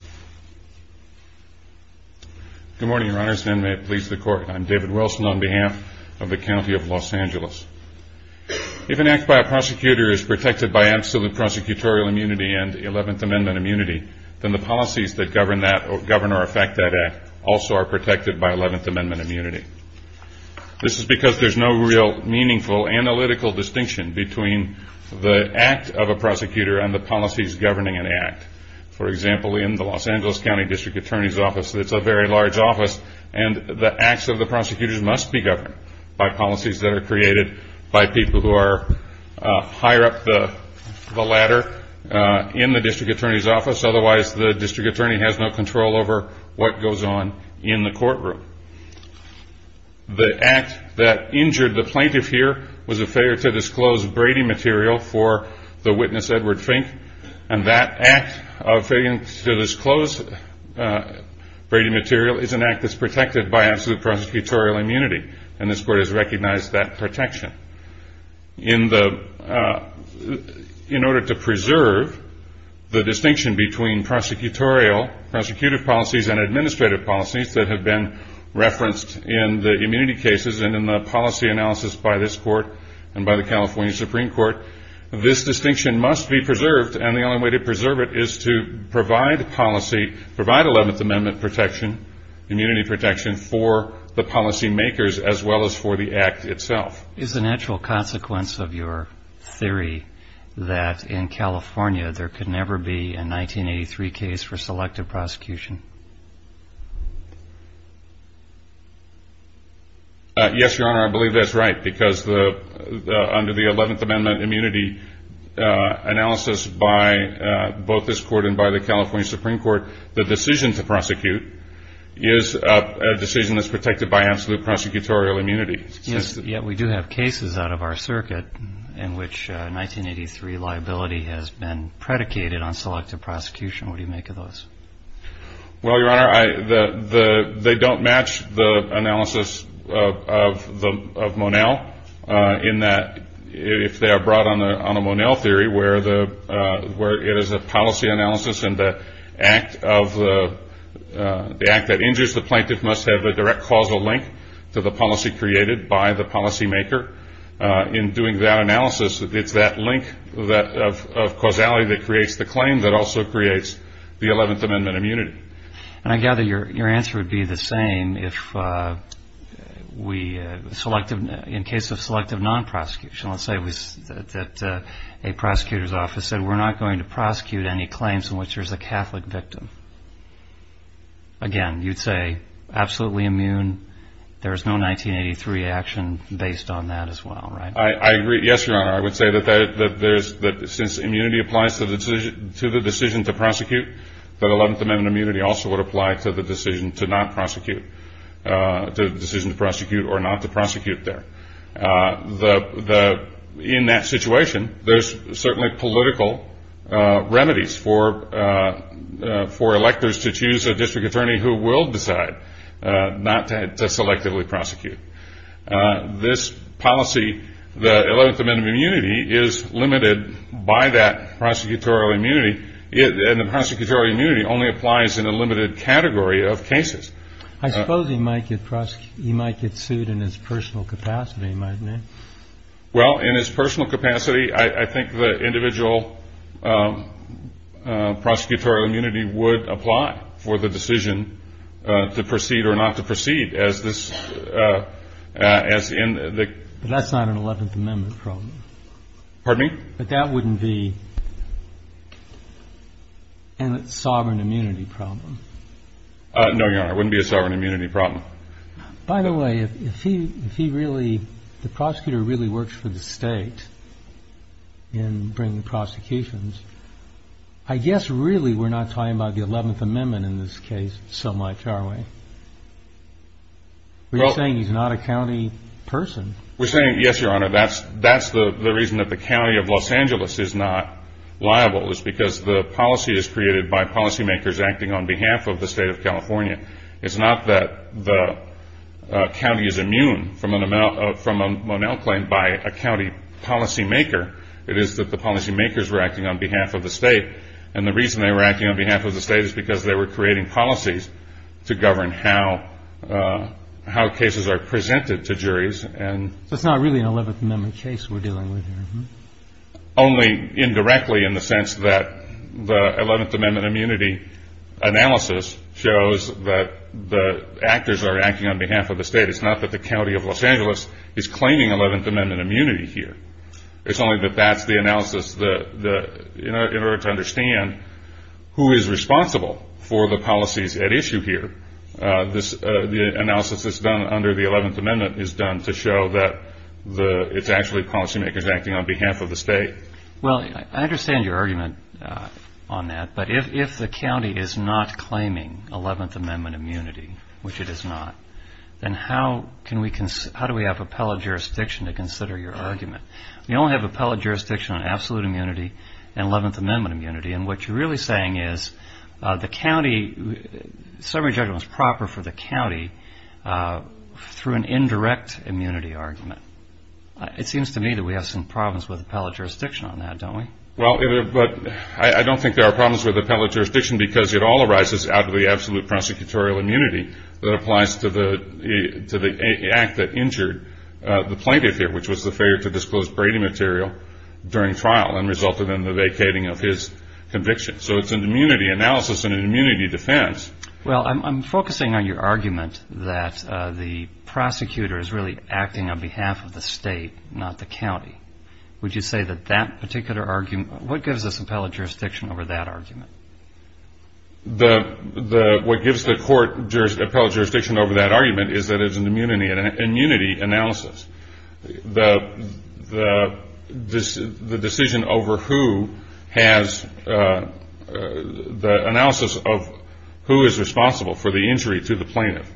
If an act by a prosecutor is protected by absolute prosecutorial immunity and Eleventh Amendment immunity, then the policies that govern or affect that act also are protected by Eleventh Amendment immunity. This is because there's no real meaningful analytical distinction between the act of a prosecutor and the policies governing an act. For example, in the Los Angeles County District Attorney's Office, it's a very large office, and the acts of the prosecutors must be governed by policies that are created by people who are higher up the ladder in the District Attorney's Office. Otherwise, the District Attorney has no control over what goes on in the courtroom. The act that injured the plaintiff here was a failure to disclose Brady material for the witness Edward Fink. And that act of failing to disclose Brady material is an act that's protected by absolute prosecutorial immunity, and this Court has recognized that protection. In order to preserve the distinction between prosecutorial, prosecutive policies, and administrative policies that have been referenced in the immunity cases and in the policy analysis by this Court and by the California Supreme Court, this distinction must be preserved. And the only way to preserve it is to provide policy, provide Eleventh Amendment protection, immunity protection, for the policy makers as well as for the act itself. Is the natural consequence of your theory that in California there could never be a 1983 case for selective prosecution? Yes, Your Honor, I believe that's right, because under the Eleventh Amendment immunity analysis by both this Court and by the California Supreme Court, the decision to prosecute is a decision that's protected by absolute prosecutorial immunity. Yes, yet we do have cases out of our circuit in which 1983 liability has been predicated on selective prosecution. What do you make of those? Well, Your Honor, they don't match the analysis of Monell in that if they are brought on a Monell theory where it is a policy analysis and the act that injures the plaintiff must have a direct causal link to the policy created by the policy maker. In doing that analysis, it's that link of causality that creates the claim that also creates the Eleventh Amendment immunity. And I gather your answer would be the same if we, in case of selective non-prosecution, let's say that a prosecutor's office said we're not going to prosecute any claims in which there's a Catholic victim. Again, you'd say absolutely immune, there's no 1983 action based on that as well, right? I agree. Yes, Your Honor, I would say that since immunity applies to the decision to prosecute, that Eleventh Amendment immunity also would apply to the decision to not prosecute, the decision to prosecute or not to prosecute there. In that situation, there's certainly political remedies for electors to choose a district attorney who will decide not to selectively prosecute. This policy, the Eleventh Amendment immunity, is limited by that prosecutorial immunity, and the prosecutorial immunity only applies in a limited category of cases. I suppose he might get sued in his personal capacity, mightn't he? Well, in his personal capacity, I think the individual prosecutorial immunity would apply for the decision to proceed or not to proceed. But that's not an Eleventh Amendment problem. Pardon me? But that wouldn't be a sovereign immunity problem. No, Your Honor, it wouldn't be a sovereign immunity problem. By the way, if the prosecutor really works for the state in bringing prosecutions, I guess really we're not talking about the Eleventh Amendment in this case so much, are we? You're saying he's not a county person. We're saying, yes, Your Honor, that's the reason that the county of Los Angeles is not liable is because the policy is created by policymakers acting on behalf of the state of California. It's not that the county is immune from a Monell claim by a county policymaker. It is that the policymakers were acting on behalf of the state, and the reason they were acting on behalf of the state is because they were creating policies to govern how cases are presented to juries So it's not really an Eleventh Amendment case we're dealing with here? Only indirectly in the sense that the Eleventh Amendment immunity analysis shows that the actors are acting on behalf of the state. It's not that the county of Los Angeles is claiming Eleventh Amendment immunity here. It's only that that's the analysis in order to understand who is responsible for the policies at issue here. The analysis that's done under the Eleventh Amendment is done to show that it's actually policymakers acting on behalf of the state. Well, I understand your argument on that, but if the county is not claiming Eleventh Amendment immunity, which it is not, then how do we have appellate jurisdiction to consider your argument? We only have appellate jurisdiction on absolute immunity and Eleventh Amendment immunity, and what you're really saying is summary judgment is proper for the county through an indirect immunity argument. It seems to me that we have some problems with appellate jurisdiction on that, don't we? Well, I don't think there are problems with appellate jurisdiction because it all arises out of the absolute prosecutorial immunity that applies to the act that injured the plaintiff here, which was the failure to disclose Brady material during trial and resulted in the vacating of his conviction. So it's an immunity analysis and an immunity defense. Well, I'm focusing on your argument that the prosecutor is really acting on behalf of the state, not the county. Would you say that that particular argument – what gives us appellate jurisdiction over that argument? What gives the court appellate jurisdiction over that argument is that it's an immunity analysis. The decision over who has the analysis of who is responsible for the injury to the plaintiff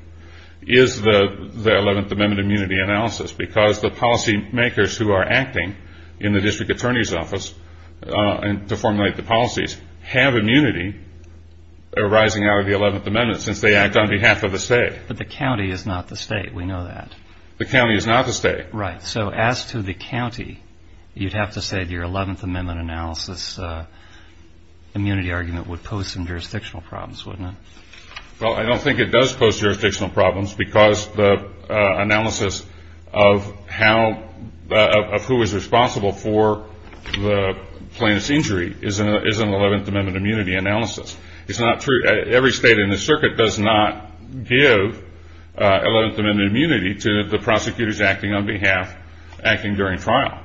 is the Eleventh Amendment immunity analysis because the policy makers who are acting in the district attorney's office to formulate the policies have immunity arising out of the Eleventh Amendment since they act on behalf of the state. But the county is not the state. We know that. The county is not the state. Right. So as to the county, you'd have to say your Eleventh Amendment analysis immunity argument would pose some jurisdictional problems, wouldn't it? Well, I don't think it does pose jurisdictional problems because the analysis of who is responsible for the plaintiff's injury is an Eleventh Amendment immunity analysis. It's not true – every state in the circuit does not give Eleventh Amendment immunity to the prosecutors acting on behalf – acting during trial.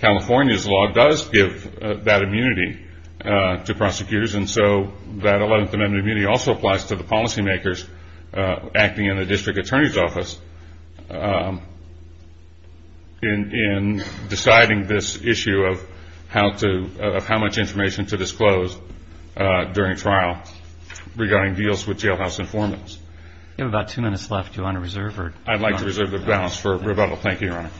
California's law does give that immunity to prosecutors and so that Eleventh Amendment immunity also applies to the policy makers acting in the district attorney's office in deciding this issue of how much information to disclose during trial regarding deals with jailhouse informants. You have about two minutes left. Do you want to reserve? I'd like to reserve the balance for rebuttal. Thank you, Your Honor.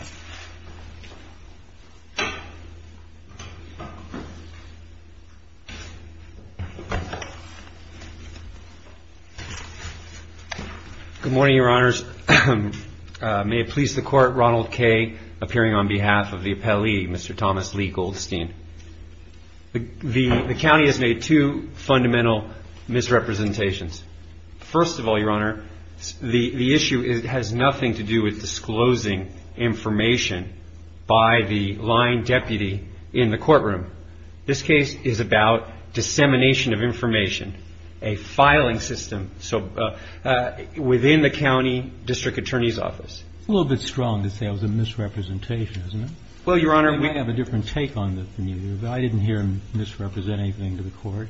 Good morning, Your Honors. May it please the Court, Ronald Kaye appearing on behalf of the appellee, Mr. Thomas Lee Goldstein. The county has made two fundamental misrepresentations. First of all, Your Honor, the issue has nothing to do with disclosing information by the lying deputy in the courtroom. This case is about dissemination of information, a filing system within the county district attorney's office. A little bit strong to say it was a misrepresentation, isn't it? Well, Your Honor, we have a different take on this from you. I didn't hear him misrepresent anything to the Court.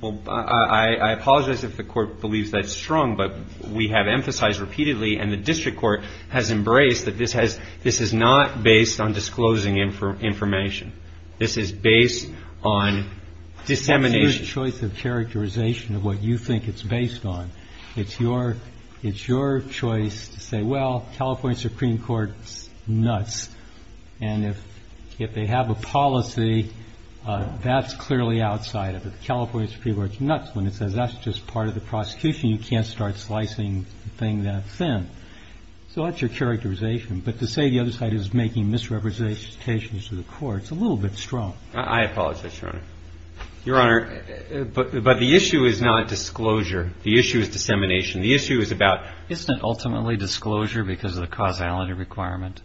Well, I apologize if the Court believes that's strong, but we have emphasized repeatedly and the district court has embraced that this has – this is not based on disclosing information. This is based on dissemination. Your choice of characterization of what you think it's based on, it's your – it's your choice to say, well, California Supreme Court's nuts, and if they have a policy, that's clearly outside of it. California Supreme Court's nuts when it says that's just part of the prosecution. You can't start slicing the thing that thin. So that's your characterization. But to say the other side is making misrepresentations to the Court, it's a little bit strong. I apologize, Your Honor. Your Honor, but the issue is not disclosure. The issue is dissemination. The issue is about – Isn't it ultimately disclosure because of the causality requirement?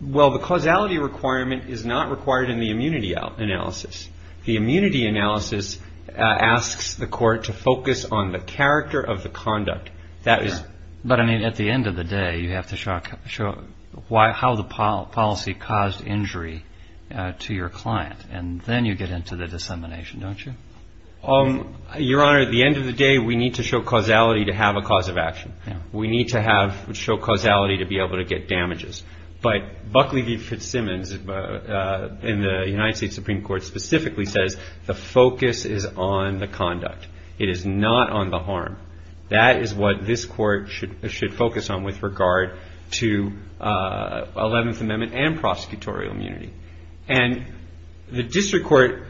Well, the causality requirement is not required in the immunity analysis. The immunity analysis asks the Court to focus on the character of the conduct. But, I mean, at the end of the day, you have to show how the policy caused injury to your client, and then you get into the dissemination, don't you? Your Honor, at the end of the day, we need to show causality to have a cause of action. We need to have – show causality to be able to get damages. But Buckley v. Fitzsimmons in the United States Supreme Court specifically says the focus is on the conduct. It is not on the harm. That is what this Court should focus on with regard to Eleventh Amendment and prosecutorial immunity. And the district court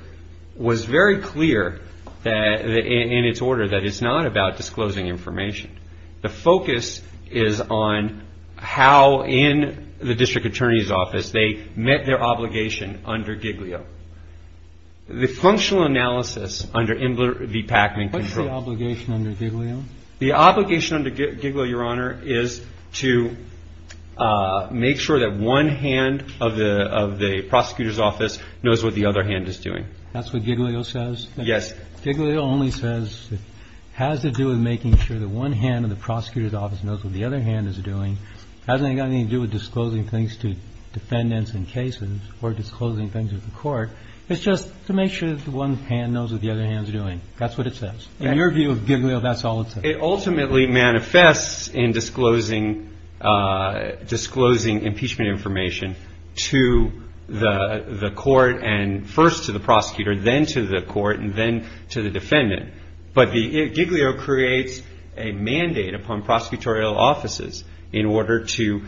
was very clear in its order that it's not about disclosing information. The focus is on how in the district attorney's office they met their obligation under Giglio. The functional analysis under Imler v. Packman – What's the obligation under Giglio? The obligation under Giglio, Your Honor, is to make sure that one hand of the prosecutor's office knows what the other hand is doing. That's what Giglio says? Yes. Giglio only says it has to do with making sure that one hand of the prosecutor's office knows what the other hand is doing. It hasn't got anything to do with disclosing things to defendants in cases or disclosing things to the Court. It's just to make sure that one hand knows what the other hand is doing. That's what it says. In your view of Giglio, that's all it says? It ultimately manifests in disclosing impeachment information to the Court and first to the prosecutor, then to the Court, and then to the defendant. But Giglio creates a mandate upon prosecutorial offices in order to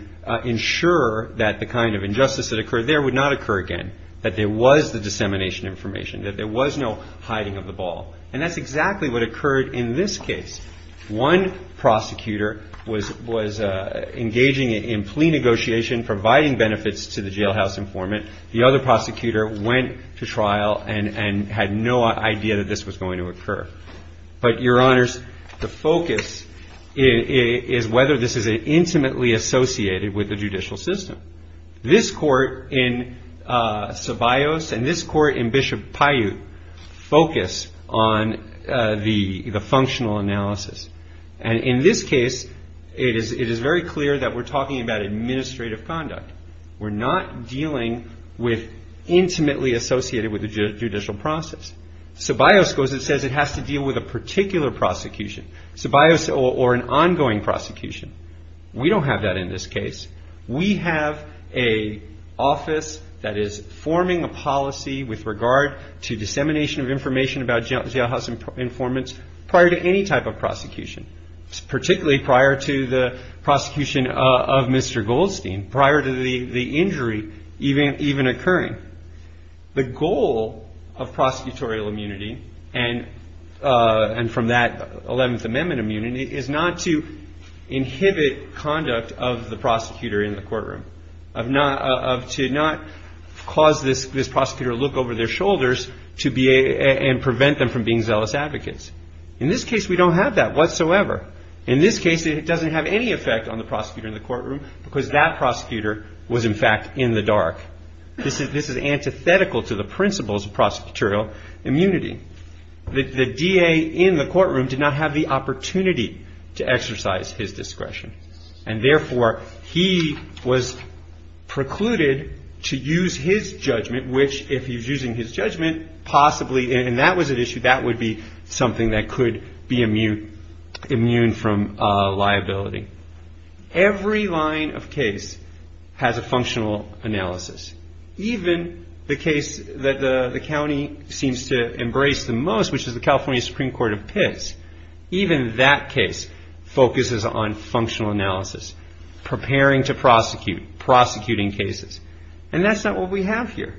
ensure that the kind of injustice that occurred there would not occur again, that there was the dissemination information, that there was no hiding of the ball. And that's exactly what occurred in this case. One prosecutor was engaging in plea negotiation, providing benefits to the jailhouse informant. The other prosecutor went to trial and had no idea that this was going to occur. But, Your Honors, the focus is whether this is intimately associated with the judicial system. This Court in Sabaios and this Court in Bishop Paiute focus on the functional analysis. And in this case, it is very clear that we're talking about administrative conduct. We're not dealing with intimately associated with the judicial process. Sabaios goes and says it has to deal with a particular prosecution, Sabaios or an ongoing prosecution. We don't have that in this case. We have an office that is forming a policy with regard to dissemination of information about jailhouse informants prior to any type of prosecution, particularly prior to the prosecution of Mr. Goldstein, prior to the injury even occurring. The goal of prosecutorial immunity and from that 11th Amendment immunity is not to inhibit conduct of the prosecutor in the courtroom, to not cause this prosecutor to look over their shoulders and prevent them from being zealous advocates. In this case, we don't have that whatsoever. In this case, it doesn't have any effect on the prosecutor in the courtroom because that prosecutor was, in fact, in the dark. This is antithetical to the principles of prosecutorial immunity. The DA in the courtroom did not have the opportunity to exercise his discretion. And therefore, he was precluded to use his judgment, which if he's using his judgment, possibly, and that was an issue, that would be something that could be immune from liability. Every line of case has a functional analysis. Even the case that the county seems to embrace the most, which is the California Supreme Court of Pitts, even that case focuses on functional analysis, preparing to prosecute, prosecuting cases. And that's not what we have here.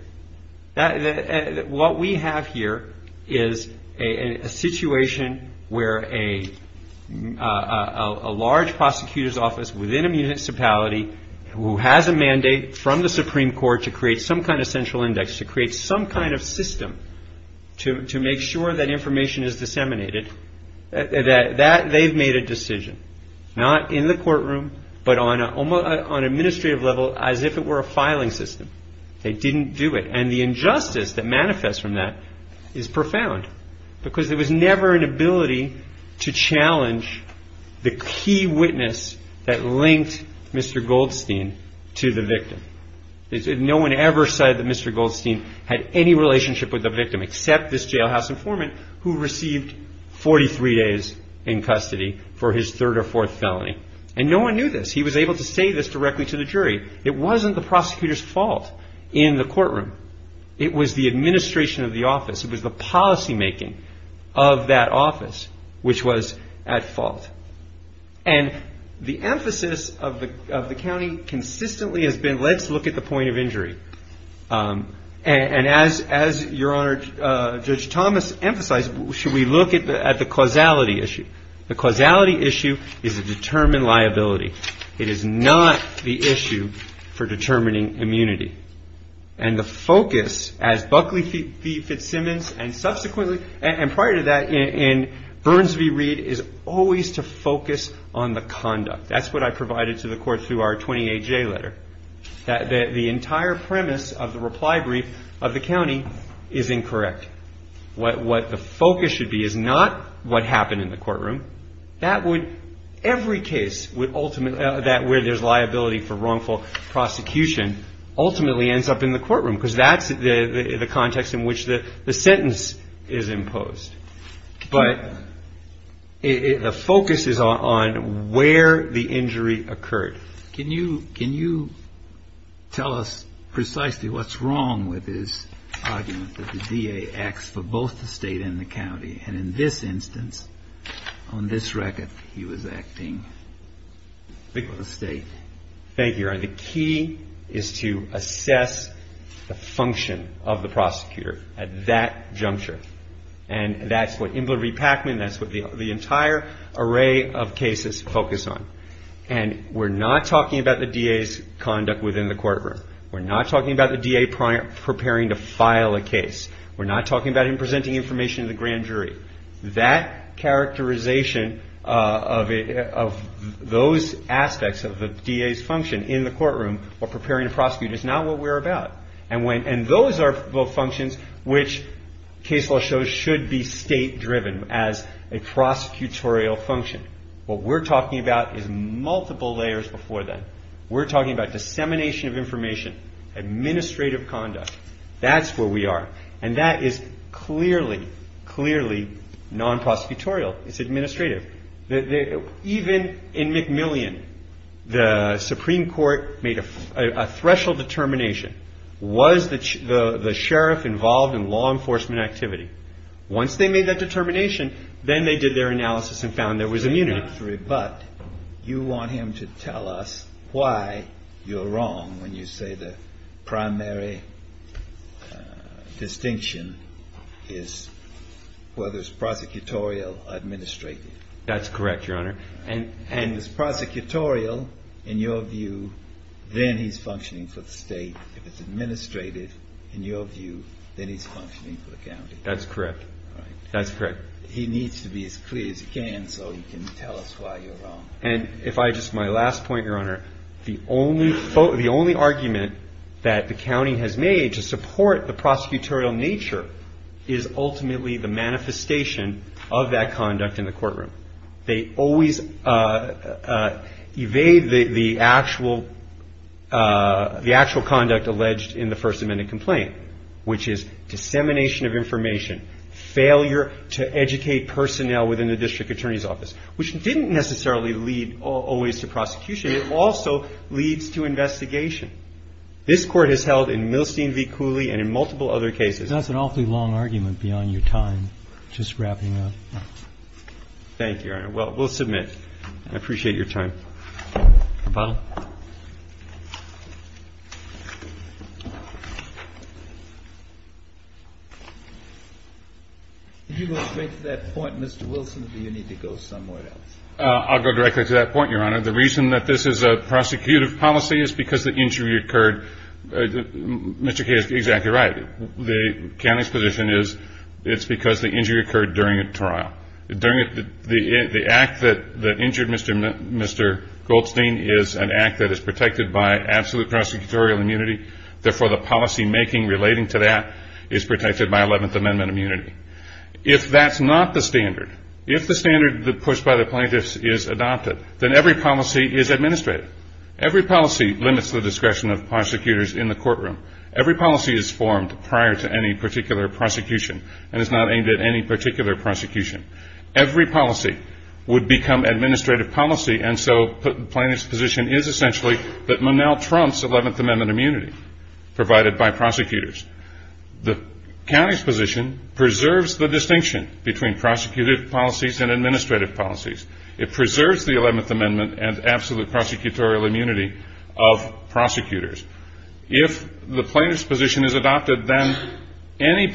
What we have here is a situation where a large prosecutor's office within a municipality who has a mandate from the Supreme Court to create some kind of central index, to create some kind of system to make sure that information is disseminated, that they've made a decision, not in the courtroom, but on an administrative level as if it were a filing system. They didn't do it. And the injustice that manifests from that is profound, because there was never an ability to challenge the key witness that linked Mr. Goldstein to the victim. No one ever said that Mr. Goldstein had any relationship with the victim, except this jailhouse informant who received 43 days in custody for his third or fourth felony. And no one knew this. He was able to say this directly to the jury. It wasn't the prosecutor's fault in the courtroom. It was the administration of the office. It was the policymaking of that office which was at fault. And the emphasis of the county consistently has been let's look at the point of injury. And as Your Honor, Judge Thomas emphasized, should we look at the causality issue? The causality issue is a determined liability. It is not the issue for determining immunity. And the focus, as Buckley v. Fitzsimmons and subsequently and prior to that in Burns v. Reed, is always to focus on the conduct. That's what I provided to the court through our 28-J letter, that the entire premise of the reply brief of the county is incorrect. What the focus should be is not what happened in the courtroom. Every case where there's liability for wrongful prosecution ultimately ends up in the courtroom because that's the context in which the sentence is imposed. But the focus is on where the injury occurred. Can you tell us precisely what's wrong with this argument that the DA acts for both the state and the county? And in this instance, on this record, he was acting for the state. Thank you, Your Honor. The key is to assess the function of the prosecutor at that juncture. And that's what Imler v. Packman, that's what the entire array of cases focus on. And we're not talking about the DA's conduct within the courtroom. We're not talking about the DA preparing to file a case. We're not talking about him presenting information to the grand jury. That characterization of those aspects of the DA's function in the courtroom or preparing to prosecute is not what we're about. And those are both functions which case law shows should be state-driven as a prosecutorial function. What we're talking about is multiple layers before that. We're talking about dissemination of information, administrative conduct. That's where we are. And that is clearly, clearly non-prosecutorial. It's administrative. Even in McMillian, the Supreme Court made a threshold determination. Was the sheriff involved in law enforcement activity? Once they made that determination, then they did their analysis and found there was immunity. But you want him to tell us why you're wrong when you say the primary distinction is whether it's prosecutorial or administrative. That's correct, Your Honor. And if it's prosecutorial in your view, then he's functioning for the state. If it's administrative in your view, then he's functioning for the county. That's correct. That's correct. He needs to be as clear as he can so he can tell us why you're wrong. And if I just my last point, Your Honor, the only argument that the county has made to support the prosecutorial nature is ultimately the manifestation of that conduct in the courtroom. They always evade the actual conduct alleged in the First Amendment complaint, which is dissemination of information, failure to educate personnel within the district attorney's office, which didn't necessarily lead always to prosecution. It also leads to investigation. This Court has held in Milstein v. Cooley and in multiple other cases. That's an awfully long argument beyond your time. Just wrapping up. Thank you, Your Honor. Well, we'll submit. I appreciate your time. Mr. Butler. Did you go straight to that point, Mr. Wilson, or do you need to go somewhere else? I'll go directly to that point, Your Honor. The reason that this is a prosecutive policy is because the injury occurred. Mr. K is exactly right. The county's position is it's because the injury occurred during a trial. The act that injured Mr. Goldstein is an act that is protected by absolute prosecutorial immunity. Therefore, the policymaking relating to that is protected by Eleventh Amendment immunity. If that's not the standard, if the standard pushed by the plaintiffs is adopted, then every policy is administrative. Every policy limits the discretion of prosecutors in the courtroom. Every policy is formed prior to any particular prosecution and is not aimed at any particular prosecution. Every policy would become administrative policy, and so the plaintiff's position is essentially that Manel trumps Eleventh Amendment immunity provided by prosecutors. The county's position preserves the distinction between prosecutive policies and administrative policies. It preserves the Eleventh Amendment and absolute prosecutorial immunity of prosecutors. If the plaintiff's position is adopted, then any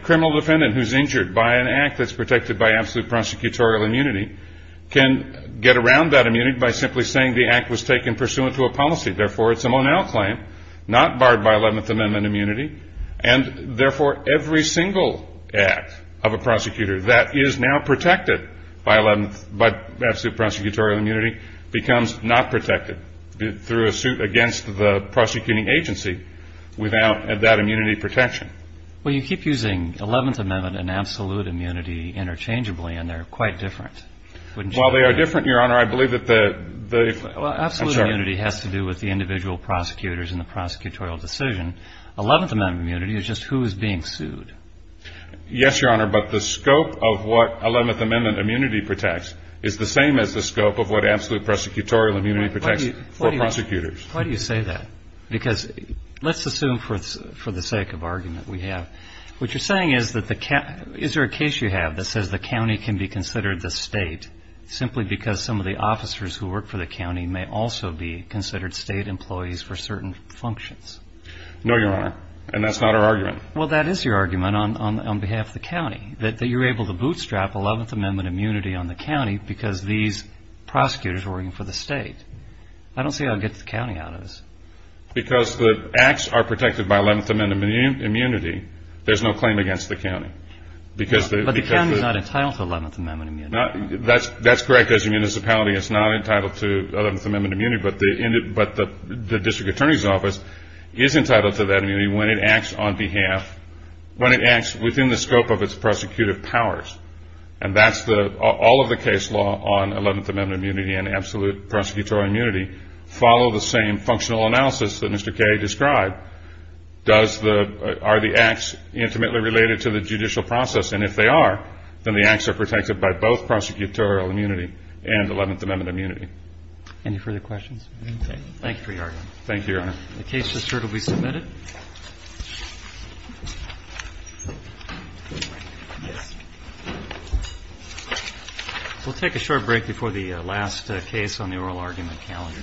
criminal defendant who's injured by an act that's protected by absolute prosecutorial immunity can get around that immunity by simply saying the act was taken pursuant to a policy. Therefore, it's a Manel claim not barred by Eleventh Amendment immunity, and therefore every single act of a prosecutor that is now protected by absolute prosecutorial immunity becomes not protected through a suit against the prosecuting agency without that immunity protection. Well, you keep using Eleventh Amendment and absolute immunity interchangeably, and they're quite different. Well, they are different, Your Honor. I believe that the – I'm sorry. Well, absolute immunity has to do with the individual prosecutors and the prosecutorial decision. Eleventh Amendment immunity is just who is being sued. Yes, Your Honor, but the scope of what Eleventh Amendment immunity protects is the same as the scope of what absolute prosecutorial immunity protects for prosecutors. Why do you say that? Because let's assume for the sake of argument we have. What you're saying is that the – is there a case you have that says the county can be considered the state simply because some of the officers who work for the county may also be considered state employees for certain functions? No, Your Honor, and that's not our argument. Well, that is your argument on behalf of the county, that you're able to bootstrap Eleventh Amendment immunity on the county because these prosecutors are working for the state. I don't see how it gets the county out of this. Because the acts are protected by Eleventh Amendment immunity, there's no claim against the county. But the county is not entitled to Eleventh Amendment immunity. That's correct as a municipality. It's not entitled to Eleventh Amendment immunity, but the district attorney's office is entitled to that immunity when it acts on behalf – when it acts within the scope of its prosecutive powers. And that's the – all of the case law on Eleventh Amendment immunity and absolute prosecutorial immunity follow the same functional analysis that Mr. Kaye described. Does the – are the acts intimately related to the judicial process? And if they are, then the acts are protected by both prosecutorial immunity and Eleventh Amendment immunity. Any further questions? Okay. Thank you for your argument. Thank you, Your Honor. The case is certainly submitted. We'll take a short break before the last case on the oral argument calendar. Thank you.